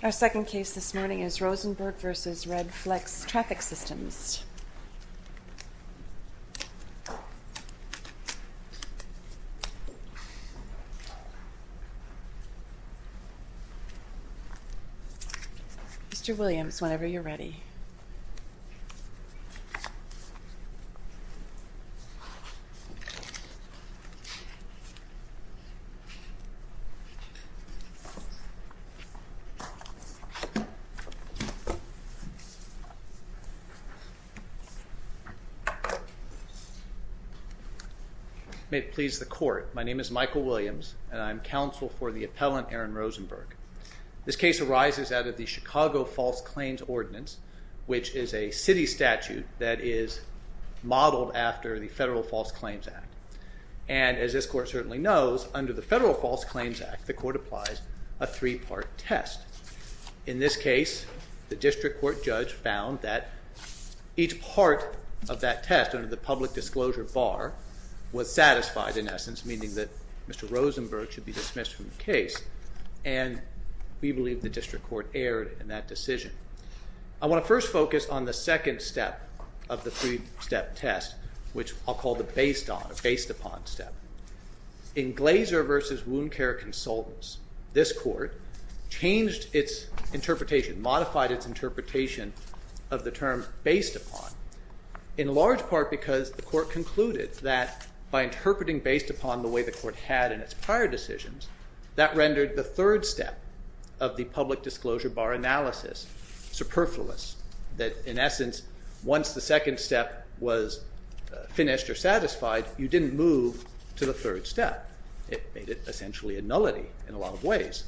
Our second case this morning is Rosenberg v. Redflex Traffic Systems. Mr. Williams, whenever you're ready. May it please the court, my name is Michael Williams and I'm counsel for the appellant Aaron Rosenberg. This case arises out of the Chicago False Claims Ordinance, which is a city statute that is modeled after the Federal False Claims Act. And as this court certainly knows, under the Federal False Claims Act, the court applies a three-part test. In this case, the district court judge found that each part of that test under the public disclosure bar was satisfied in essence, meaning that Mr. Rosenberg should be dismissed from the case, and we believe the district court erred in that decision. I want to first focus on the second step of the three-step test, which I'll call the based-upon step. In Glazer v. Wound Care Consultants, this court changed its interpretation, modified its interpretation of the term based-upon, in large part because the court concluded that by interpreting based-upon the way the court had in its prior decisions, that rendered the third step of the public disclosure bar analysis superfluous. That in essence, once the second step was finished or satisfied, you didn't move to the third step. It made it essentially a nullity in a lot of ways.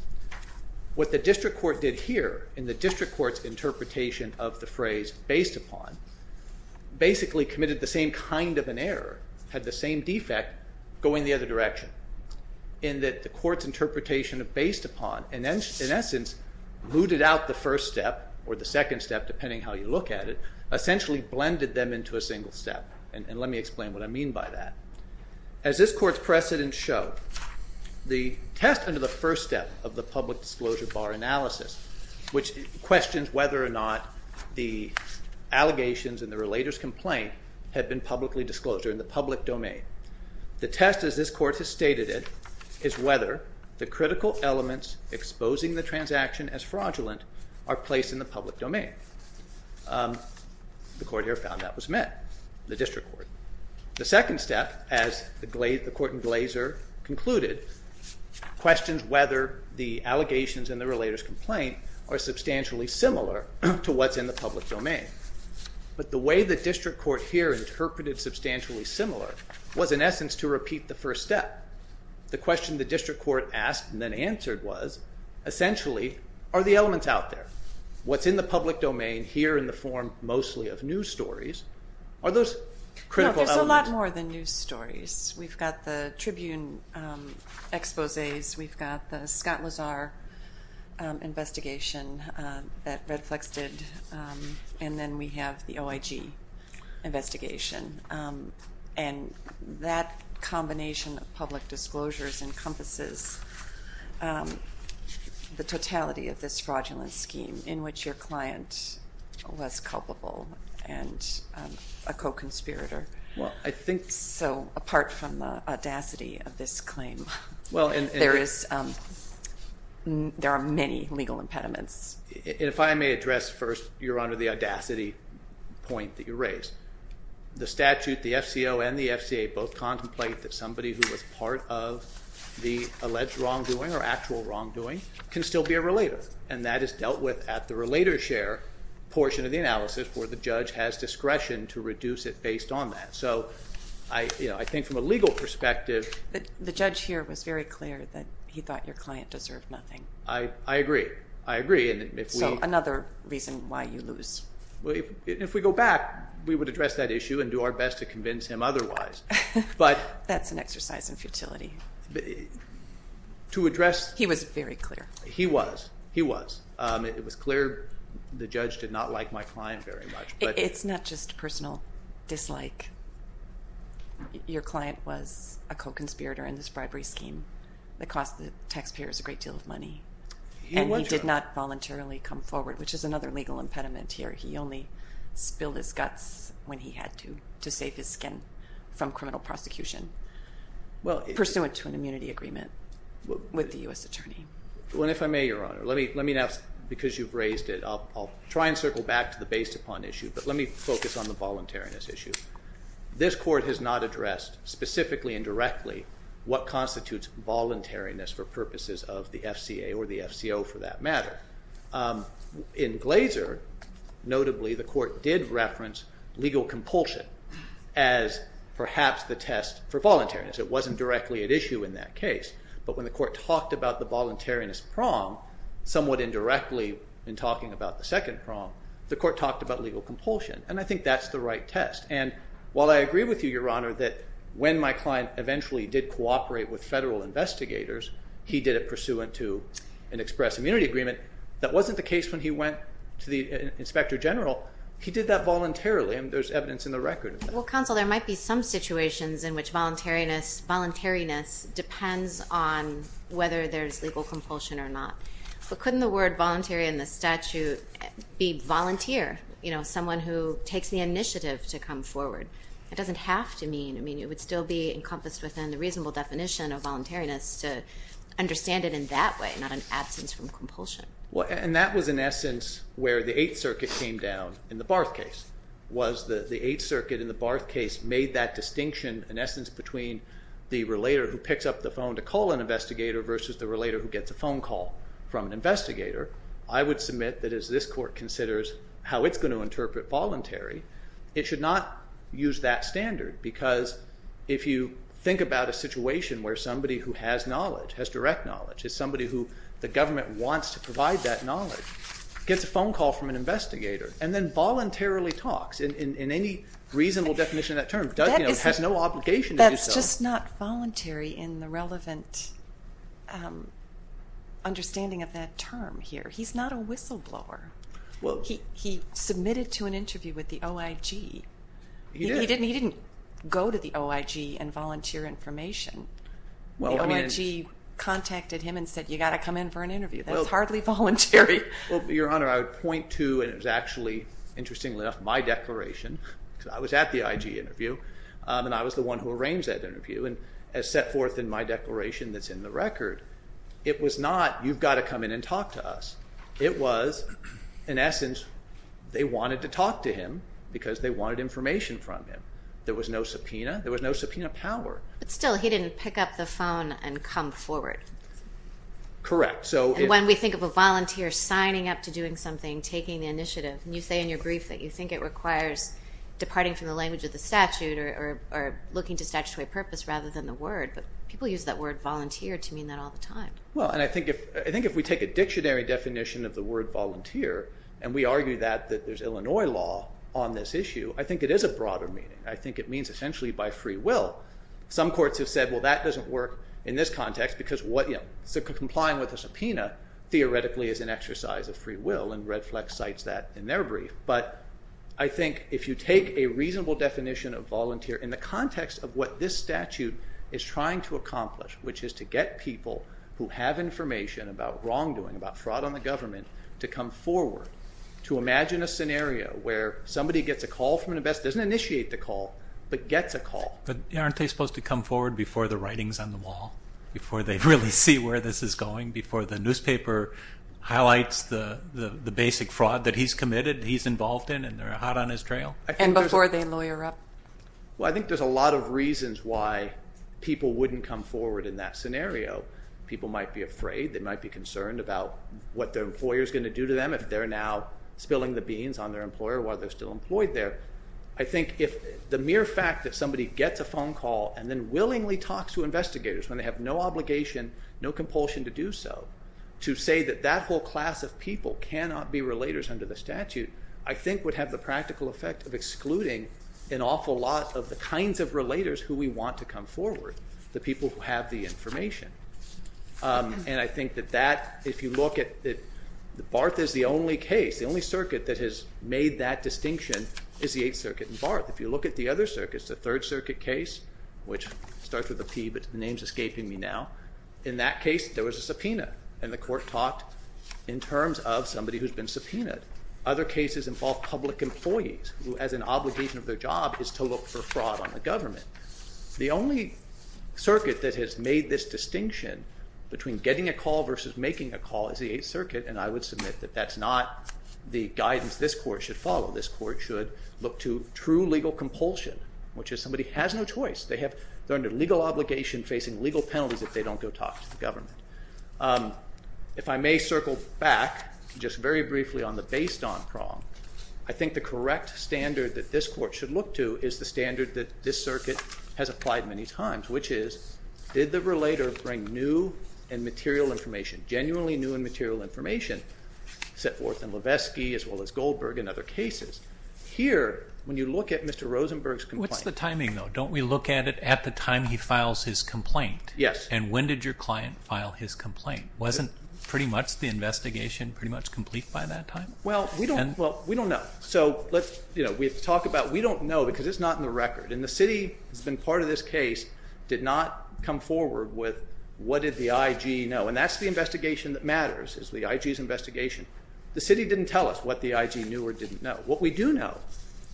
What the district court did here in the district court's interpretation of the phrase based-upon, basically committed the same kind of an error, had the same defect, going the other direction, in that the court's interpretation of based-upon, in essence, looted out the first step or the second step, depending how you look at it, essentially blended them into a single step. And let me explain what I mean by that. As this court's precedents show, the test under the first step of the public disclosure bar analysis, which questions whether or not the allegations in the relator's complaint had been publicly disclosed or in the public domain. The test, as this court has stated it, is whether the critical elements exposing the transaction as fraudulent are placed in the public domain. The court here found that was met, the district court. The second step, as the court in Glazer concluded, questions whether the allegations in the relator's complaint are substantially similar to what's in the public domain. But the way the district court here interpreted substantially similar was, in essence, to repeat the first step. The question the district court asked and then answered was, essentially, are the elements out there? What's in the public domain here in the form mostly of news stories, are those critical elements? There's a lot more than news stories. We've got the Tribune exposés. We've got the Scott Lazar investigation that Redflex did. And then we have the OIG investigation. And that combination of public disclosures encompasses the totality of this fraudulent scheme in which your client was culpable and a co-conspirator. So apart from the audacity of this claim, there are many legal impediments. And if I may address first, Your Honor, the audacity point that you raised. The statute, the FCO, and the FCA both contemplate that somebody who was part of the alleged wrongdoing or actual wrongdoing can still be a relator. And that is dealt with at the relator share portion of the analysis where the judge has discretion to reduce it based on that. So I think from a legal perspective. The judge here was very clear that he thought your client deserved nothing. I agree. I agree. So another reason why you lose. If we go back, we would address that issue and do our best to convince him otherwise. That's an exercise in futility. He was very clear. He was. He was. It was clear the judge did not like my client very much. It's not just personal dislike. Your client was a co-conspirator in this bribery scheme that cost the taxpayers a great deal of money. And he did not voluntarily come forward, which is another legal impediment here. He only spilled his guts when he had to to save his skin from criminal prosecution. Well, pursuant to an immunity agreement with the U.S. Attorney. Well, if I may, Your Honor, let me ask because you've raised it. I'll try and circle back to the based upon issue, but let me focus on the voluntariness issue. This court has not addressed specifically and directly what constitutes voluntariness for purposes of the FCA or the FCO for that matter. In Glaser, notably, the court did reference legal compulsion as perhaps the test for voluntariness. It wasn't directly at issue in that case. But when the court talked about the voluntariness prong somewhat indirectly in talking about the second prong, the court talked about legal compulsion. And I think that's the right test. And while I agree with you, Your Honor, that when my client eventually did cooperate with federal investigators, he did it pursuant to an express immunity agreement. That wasn't the case when he went to the inspector general. He did that voluntarily and there's evidence in the record. Well, counsel, there might be some situations in which voluntariness depends on whether there's legal compulsion or not. But couldn't the word voluntary in the statute be volunteer, you know, someone who takes the initiative to come forward? It doesn't have to mean, I mean, it would still be encompassed within the reasonable definition of voluntariness to understand it in that way, not an absence from compulsion. And that was in essence where the Eighth Circuit came down in the Barth case, was the Eighth Circuit in the Barth case made that distinction, in essence, between the relator who picks up the phone to call an investigator versus the relator who gets a phone call from an investigator. I would submit that as this court considers how it's going to interpret voluntary, it should not use that standard. Because if you think about a situation where somebody who has knowledge, has direct knowledge, is somebody who the government wants to provide that knowledge, gets a phone call from an investigator and then voluntarily talks in any reasonable definition of that term. It has no obligation to do so. That's just not voluntary in the relevant understanding of that term here. He's not a whistleblower. He submitted to an interview with the OIG. He didn't go to the OIG and volunteer information. The OIG contacted him and said, you've got to come in for an interview. That's hardly voluntary. Well, Your Honor, I would point to, and it was actually, interestingly enough, my declaration. I was at the IG interview, and I was the one who arranged that interview. As set forth in my declaration that's in the record, it was not, you've got to come in and talk to us. It was, in essence, they wanted to talk to him because they wanted information from him. There was no subpoena. There was no subpoena power. But still, he didn't pick up the phone and come forward. Correct. And when we think of a volunteer signing up to doing something, taking the initiative, and you say in your brief that you think it requires departing from the language of the statute or looking to statutory purpose rather than the word, but people use that word volunteer to mean that all the time. Well, and I think if we take a dictionary definition of the word volunteer, and we argue that there's Illinois law on this issue, I think it is a broader meaning. I think it means essentially by free will. Some courts have said, well, that doesn't work in this context because complying with a subpoena theoretically is an exercise of free will, and Redflex cites that in their brief. But I think if you take a reasonable definition of volunteer in the context of what this statute is trying to accomplish, which is to get people who have information about wrongdoing, about fraud on the government, to come forward, to imagine a scenario where somebody gets a call from an investigator, doesn't initiate the call, but gets a call. But aren't they supposed to come forward before the writing's on the wall, before they really see where this is going, before the newspaper highlights the basic fraud that he's committed, he's involved in, and they're hot on his trail? And before they lawyer up. Well, I think there's a lot of reasons why people wouldn't come forward in that scenario. People might be afraid. They might be concerned about what their employer's going to do to them if they're now spilling the beans on their employer while they're still employed there. I think the mere fact that somebody gets a phone call and then willingly talks to investigators when they have no obligation, no compulsion to do so, to say that that whole class of people cannot be relators under the statute, I think would have the practical effect of excluding an awful lot of the kinds of relators who we want to come forward, the people who have the information. And I think that that, if you look at it, Barth is the only case, the only circuit that has made that distinction is the 8th Circuit in Barth. If you look at the other circuits, the 3rd Circuit case, which starts with a P but the name's escaping me now, in that case there was a subpoena, and the court talked in terms of somebody who's been subpoenaed. Other cases involve public employees who, as an obligation of their job, is to look for fraud on the government. The only circuit that has made this distinction between getting a call versus making a call is the 8th Circuit, and I would submit that that's not the guidance this court should follow. This court should look to true legal compulsion, which is somebody has no choice. They're under legal obligation facing legal penalties if they don't go talk to the government. If I may circle back just very briefly on the based on prong, I think the correct standard that this court should look to is the standard that this circuit has applied many times, which is did the relator bring new and material information, genuinely new and material information, set forth in Levesky as well as Goldberg and other cases. Here, when you look at Mr. Rosenberg's complaint. What's the timing, though? Don't we look at it at the time he files his complaint? Yes. And when did your client file his complaint? Wasn't pretty much the investigation pretty much complete by that time? Well, we don't know. So we have to talk about we don't know because it's not in the record, and the city has been part of this case did not come forward with what did the I.G. know, and that's the investigation that matters is the I.G.'s investigation. The city didn't tell us what the I.G. knew or didn't know. What we do know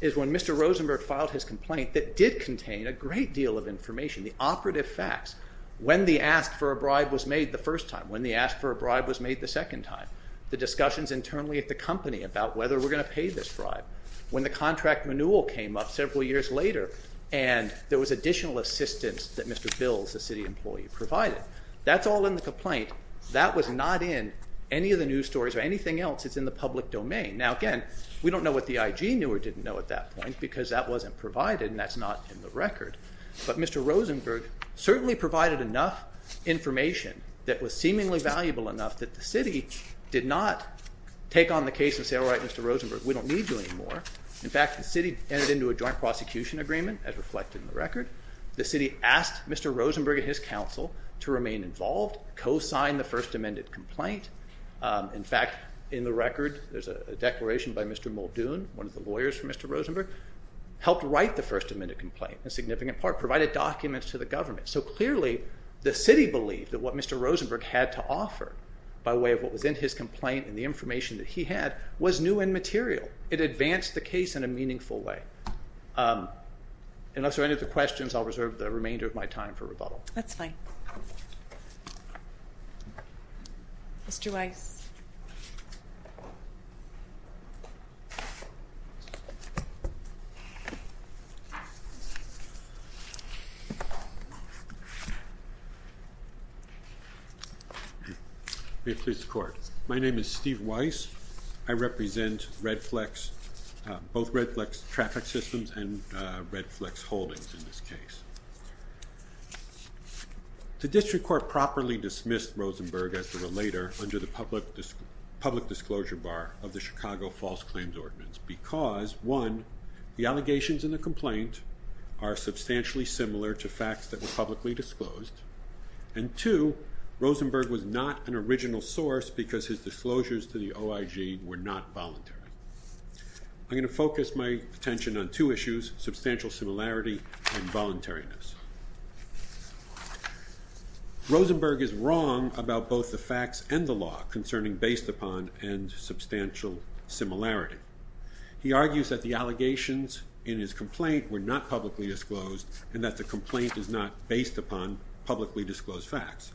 is when Mr. Rosenberg filed his complaint that did contain a great deal of information, the operative facts, when the ask for a bribe was made the first time, when the ask for a bribe was made the second time, the discussions internally at the company about whether we're going to pay this bribe, when the contract renewal came up several years later, and there was additional assistance that Mr. Bills, the city employee, provided. That's all in the complaint. That was not in any of the news stories or anything else. It's in the public domain. Now, again, we don't know what the I.G. knew or didn't know at that point because that wasn't provided, and that's not in the record, but Mr. Rosenberg certainly provided enough information that was seemingly valuable enough that the city did not take on the case and say, all right, Mr. Rosenberg, we don't need you anymore. In fact, the city entered into a joint prosecution agreement, as reflected in the record. The city asked Mr. Rosenberg and his counsel to remain involved, co-sign the first amended complaint. In fact, in the record there's a declaration by Mr. Muldoon, one of the lawyers for Mr. Rosenberg, helped write the first amended complaint, a significant part, provided documents to the government. So clearly the city believed that what Mr. Rosenberg had to offer by way of what was in his complaint and the information that he had was new and material. It advanced the case in a meaningful way. Unless there are any other questions, I'll reserve the remainder of my time for rebuttal. That's fine. Mr. Weiss. May it please the Court. My name is Steve Weiss. I represent Redflex, both Redflex Traffic Systems and Redflex Holdings in this case. The District Court properly dismissed Rosenberg as the relator under the public disclosure bar of the Chicago False Claims Ordinance because, one, the allegations in the complaint are substantially similar to facts that were publicly disclosed, and two, Rosenberg was not an original source because his disclosures to the OIG were not voluntary. I'm going to focus my attention on two issues, substantial similarity and voluntariness. Rosenberg is wrong about both the facts and the law concerning based upon and substantial similarity. He argues that the allegations in his complaint were not publicly disclosed and that the complaint is not based upon publicly disclosed facts.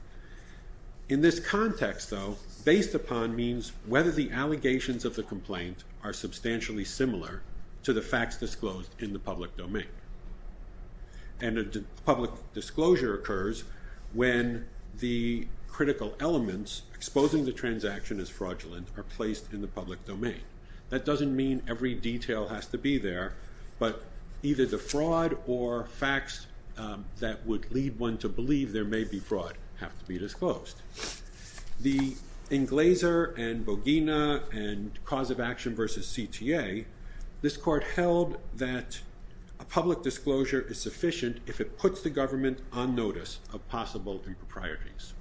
In this context, though, based upon means whether the allegations of the complaint are substantially similar to the facts disclosed in the public domain. And a public disclosure occurs when the critical elements exposing the transaction as fraudulent are placed in the public domain. That doesn't mean every detail has to be there, but either the fraud or facts that would lead one to believe there may be fraud have to be disclosed. The Englaser and Bogina and cause of action versus CTA, this court held that a public disclosure is sufficient if it puts the government on notice of possible improprieties.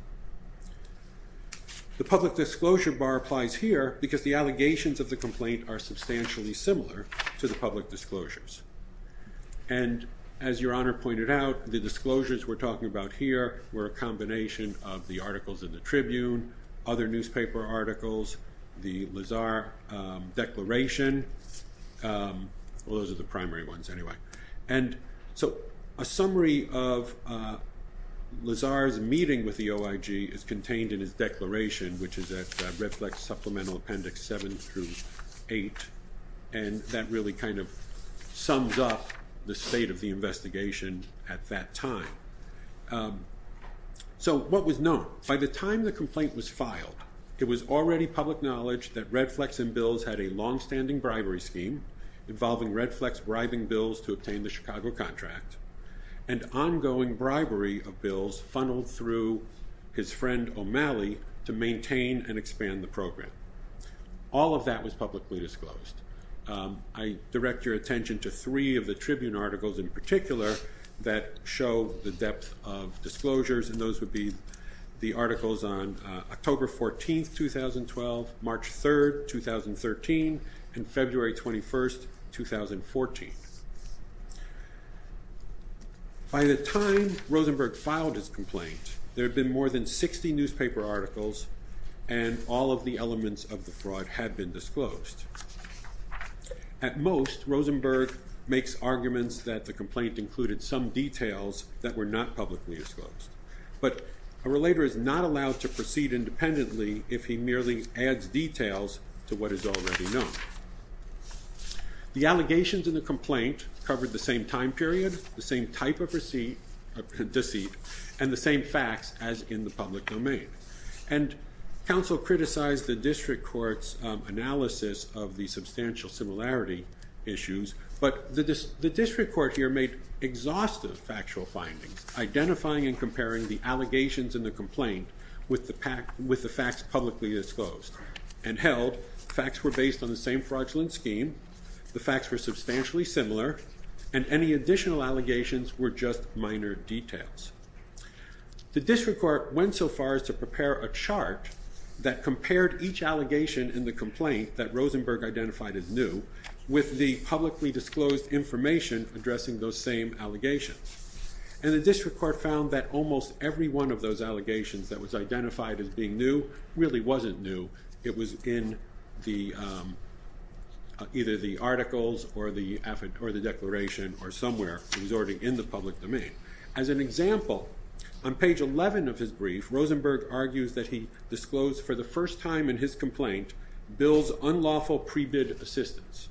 The public disclosure bar applies here because the allegations of the complaint are substantially similar to the public disclosures. And as your honor pointed out, the disclosures we're talking about here were a combination of the articles in the Tribune, other newspaper articles, the Lazar declaration. Those are the primary ones anyway. And so a summary of Lazar's meeting with the OIG is contained in his declaration, which is at Redflex Supplemental Appendix 7 through 8. And that really kind of sums up the state of the investigation at that time. So what was known by the time the complaint was filed? It was already public knowledge that Redflex and Bills had a longstanding bribery scheme involving Redflex bribing Bills to obtain the Chicago contract, and ongoing bribery of Bills funneled through his friend O'Malley to maintain and expand the program. All of that was publicly disclosed. I direct your attention to three of the Tribune articles in particular that show the depth of disclosures, and those would be the articles on October 14, 2012, March 3, 2013, and February 21, 2014. By the time Rosenberg filed his complaint, there had been more than 60 newspaper articles, and all of the elements of the fraud had been disclosed. At most, Rosenberg makes arguments that the complaint included some details that were not publicly disclosed. But a relator is not allowed to proceed independently if he merely adds details to what is already known. The allegations in the complaint covered the same time period, the same type of deceit, and the same facts as in the public domain. And counsel criticized the district court's analysis of the substantial similarity issues, but the district court here made exhaustive factual findings, identifying and comparing the allegations in the complaint with the facts publicly disclosed, and held facts were based on the same fraudulent scheme, the facts were substantially similar, and any additional allegations were just minor details. The district court went so far as to prepare a chart that compared each allegation in the complaint that Rosenberg identified as new with the publicly disclosed information addressing those same allegations. And the district court found that almost every one of those allegations that was identified as being new really wasn't new, it was in either the articles or the declaration or somewhere, it was already in the public domain. As an example, on page 11 of his brief, Rosenberg argues that he disclosed for the first time in his complaint, Bill's unlawful pre-bid assistance.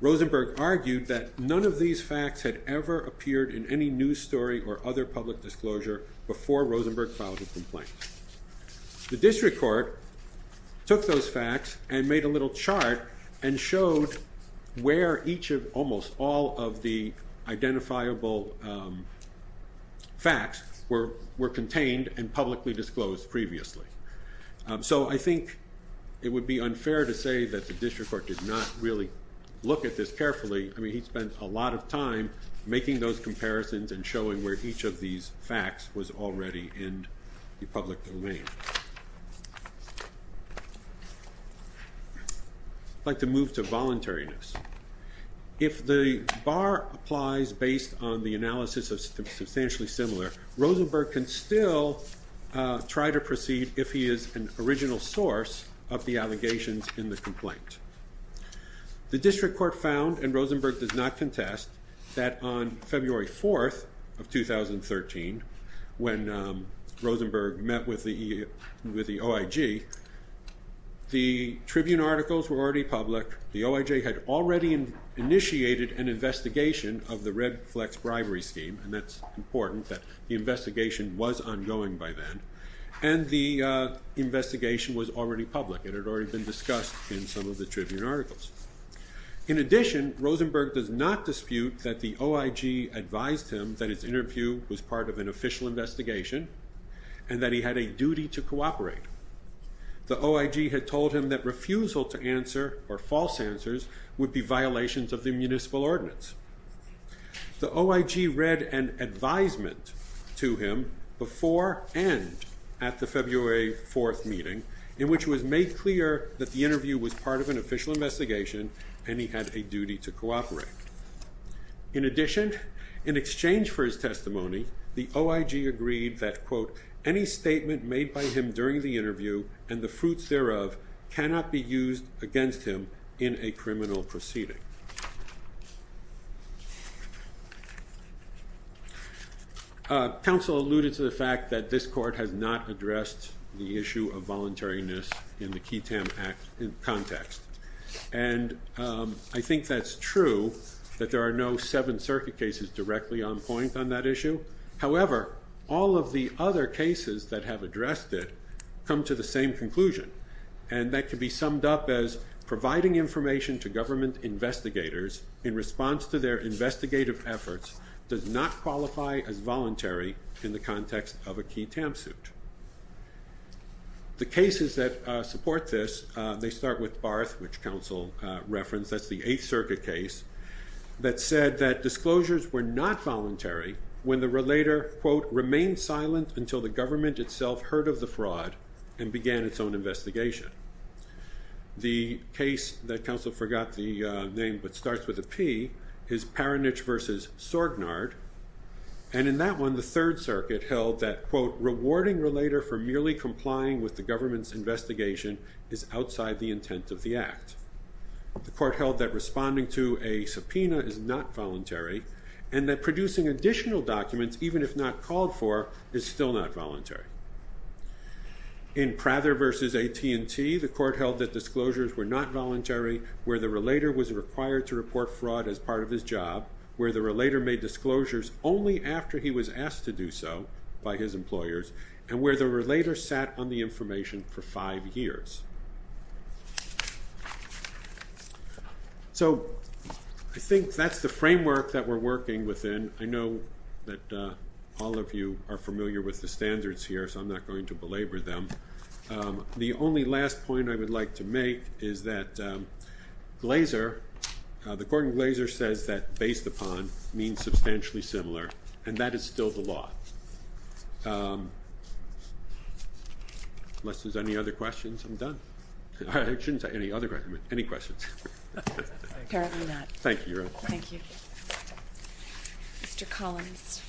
Rosenberg argued that none of these facts had ever appeared in any news story or other public disclosure before Rosenberg filed a complaint. The district court took those facts and made a little chart and showed where each of almost all of the identifiable facts were contained and publicly disclosed previously. So I think it would be unfair to say that the district court did not really look at this carefully. I mean, he spent a lot of time making those comparisons and showing where each of these facts was already in the public domain. I'd like to move to voluntariness. If the bar applies based on the analysis of substantially similar, Rosenberg can still try to proceed if he is an original source of the allegations in the complaint. The district court found, and Rosenberg does not contest, that on February 4th of 2013, when Rosenberg met with the OIG, the Tribune articles were already public, the OIG had already initiated an investigation of the Red Flex bribery scheme, and that's important that the investigation was ongoing by then, and the investigation was already public. It had already been discussed in some of the Tribune articles. In addition, Rosenberg does not dispute that the OIG advised him that his interview was part of an official investigation and that he had a duty to cooperate. The OIG had told him that refusal to answer or false answers would be violations of the municipal ordinance. The OIG read an advisement to him before and at the February 4th meeting, in which it was made clear that the interview was part of an official investigation and he had a duty to cooperate. In addition, in exchange for his testimony, the OIG agreed that, quote, Council alluded to the fact that this court has not addressed the issue of voluntariness in the Keaton Act context, and I think that's true, that there are no Seventh Circuit cases directly on point on that issue. However, all of the other cases that have addressed it come to the same conclusion, and that can be summed up as providing information to government investigators in response to their investigative efforts does not qualify as voluntary in the context of a key TAM suit. The cases that support this, they start with Barth, which Council referenced, that's the Eighth Circuit case, that said that disclosures were not voluntary when the relator, quote, until the government itself heard of the fraud and began its own investigation. The case that Council forgot the name, but starts with a P, is Paranich v. Sorgnard, and in that one, the Third Circuit held that, quote, rewarding relator for merely complying with the government's investigation is outside the intent of the act. The court held that responding to a subpoena is not voluntary, and that producing additional documents, even if not called for, is still not voluntary. In Prather v. AT&T, the court held that disclosures were not voluntary, where the relator was required to report fraud as part of his job, where the relator made disclosures only after he was asked to do so by his employers, and where the relator sat on the information for five years. So I think that's the framework that we're working within. I know that all of you are familiar with the standards here, so I'm not going to belabor them. The only last point I would like to make is that Glazer, the court in Glazer, says that based upon means substantially similar, and that is still the law. Unless there's any other questions, I'm done. I shouldn't say any other questions. Any questions? Apparently not. Thank you. Thank you. Mr. Collins.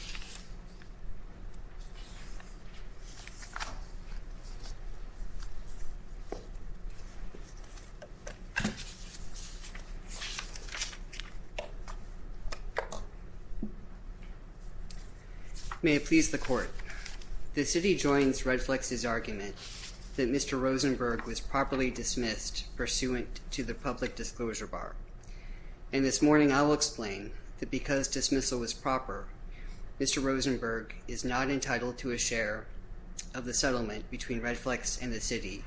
Thank you. May it please the court. The city joins Redflex's argument that Mr. Rosenberg was properly dismissed pursuant to the public disclosure bar, and this morning I will explain that because dismissal was proper, Mr. Rosenberg is not entitled to a share of the settlement between Redflex and the city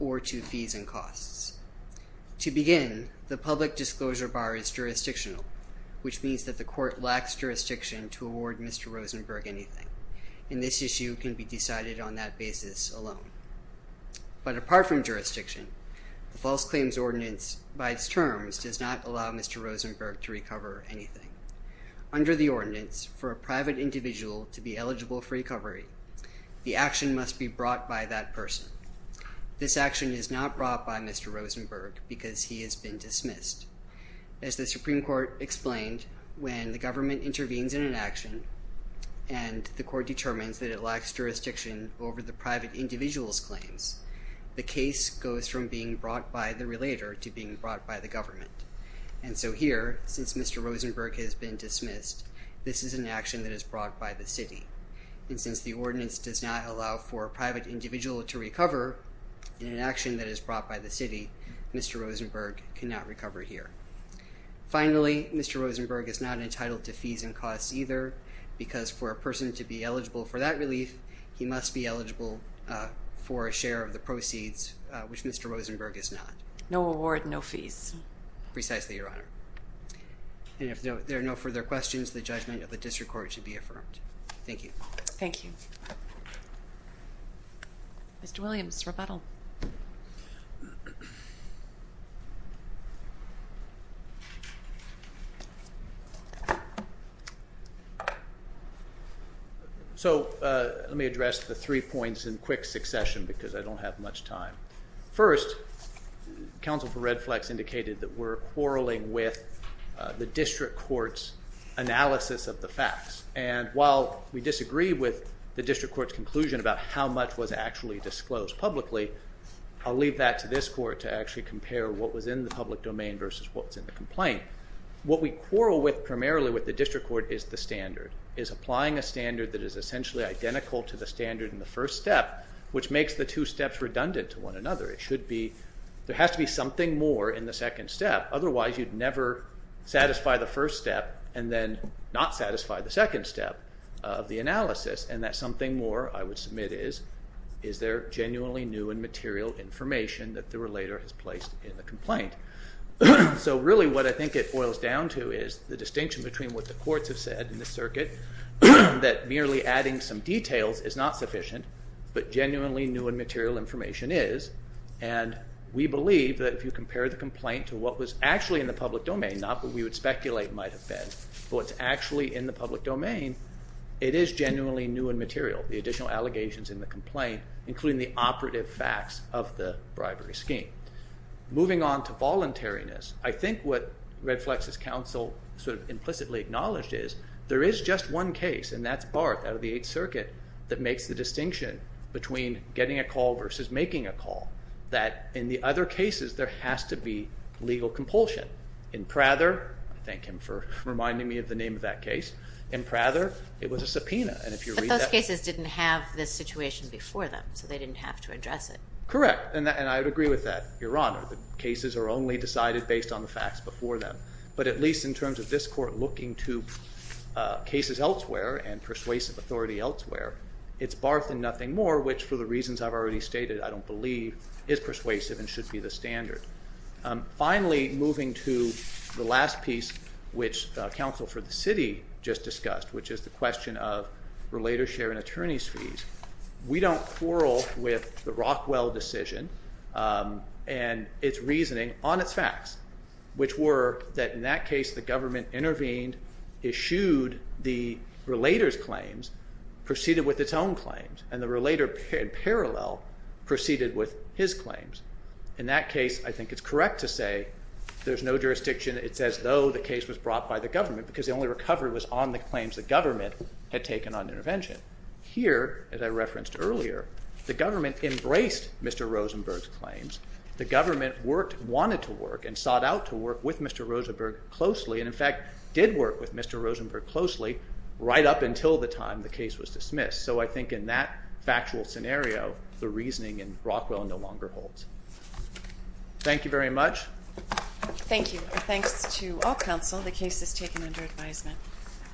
or to fees and costs. To begin, the public disclosure bar is jurisdictional, which means that the court lacks jurisdiction to award Mr. Rosenberg anything, and this issue can be decided on that basis alone. But apart from jurisdiction, the false claims ordinance by its terms does not allow Mr. Rosenberg to recover anything. Under the ordinance, for a private individual to be eligible for recovery, the action must be brought by that person. This action is not brought by Mr. Rosenberg because he has been dismissed. As the Supreme Court explained, when the government intervenes in an action and the court determines that it lacks jurisdiction over the private individual's claims, the case goes from being brought by the relator to being brought by the government. And so here, since Mr. Rosenberg has been dismissed, this is an action that is brought by the city. And since the ordinance does not allow for a private individual to recover, in an action that is brought by the city, Mr. Rosenberg cannot recover here. Finally, Mr. Rosenberg is not entitled to fees and costs either because for a person to be eligible for that relief, he must be eligible for a share of the proceeds, which Mr. Rosenberg is not. No award, no fees. Precisely, Your Honor. And if there are no further questions, the judgment of the district court should be affirmed. Thank you. Thank you. Mr. Williams, rebuttal. So let me address the three points in quick succession because I don't have much time. First, counsel for Redflex indicated that we're quarreling with the district court's analysis of the facts. And while we disagree with the district court's conclusion about how much was actually disclosed publicly, I'll leave that to this court to actually compare what was in the public domain versus what was in the complaint. What we quarrel with primarily with the district court is the standard, is applying a standard that is essentially identical to the standard in the first step, which makes the two steps redundant to one another. It should be, there has to be something more in the second step. Otherwise, you'd never satisfy the first step and then not satisfy the second step of the analysis. And that something more I would submit is, is there genuinely new and material information that the relator has placed in the complaint? So really what I think it boils down to is the distinction between what the courts have said in the circuit that merely adding some details is not sufficient, but genuinely new and material information is. And we believe that if you compare the complaint to what was actually in the public domain, not what we would speculate might have been, but what's actually in the public domain, it is genuinely new and material, the additional allegations in the complaint, including the operative facts of the bribery scheme. Moving on to voluntariness, I think what Red Flex's counsel sort of implicitly acknowledged is there is just one case, and that's Barth out of the Eighth Circuit, that makes the distinction between getting a call versus making a call, that in the other cases there has to be legal compulsion. In Prather, I thank him for reminding me of the name of that case, in Prather it was a subpoena. But those cases didn't have this situation before them, so they didn't have to address it. Correct, and I would agree with that, Your Honor. The cases are only decided based on the facts before them. But at least in terms of this Court looking to cases elsewhere and persuasive authority elsewhere, it's Barth and nothing more, which for the reasons I've already stated, I don't believe is persuasive and should be the standard. Finally, moving to the last piece which counsel for the city just discussed, which is the question of relator share and attorney's fees, we don't quarrel with the Rockwell decision and its reasoning on its facts, which were that in that case the government intervened, eschewed the relator's claims, proceeded with its own claims, and the relator in parallel proceeded with his claims. In that case, I think it's correct to say there's no jurisdiction. It's as though the case was brought by the government because the only recovery was on the claims the government had taken on intervention. Here, as I referenced earlier, the government embraced Mr. Rosenberg's claims. The government wanted to work and sought out to work with Mr. Rosenberg closely and, in fact, did work with Mr. Rosenberg closely right up until the time the case was dismissed. So I think in that factual scenario, the reasoning in Rockwell no longer holds. Thank you very much. Thank you, and thanks to all counsel. The case is taken under advisement.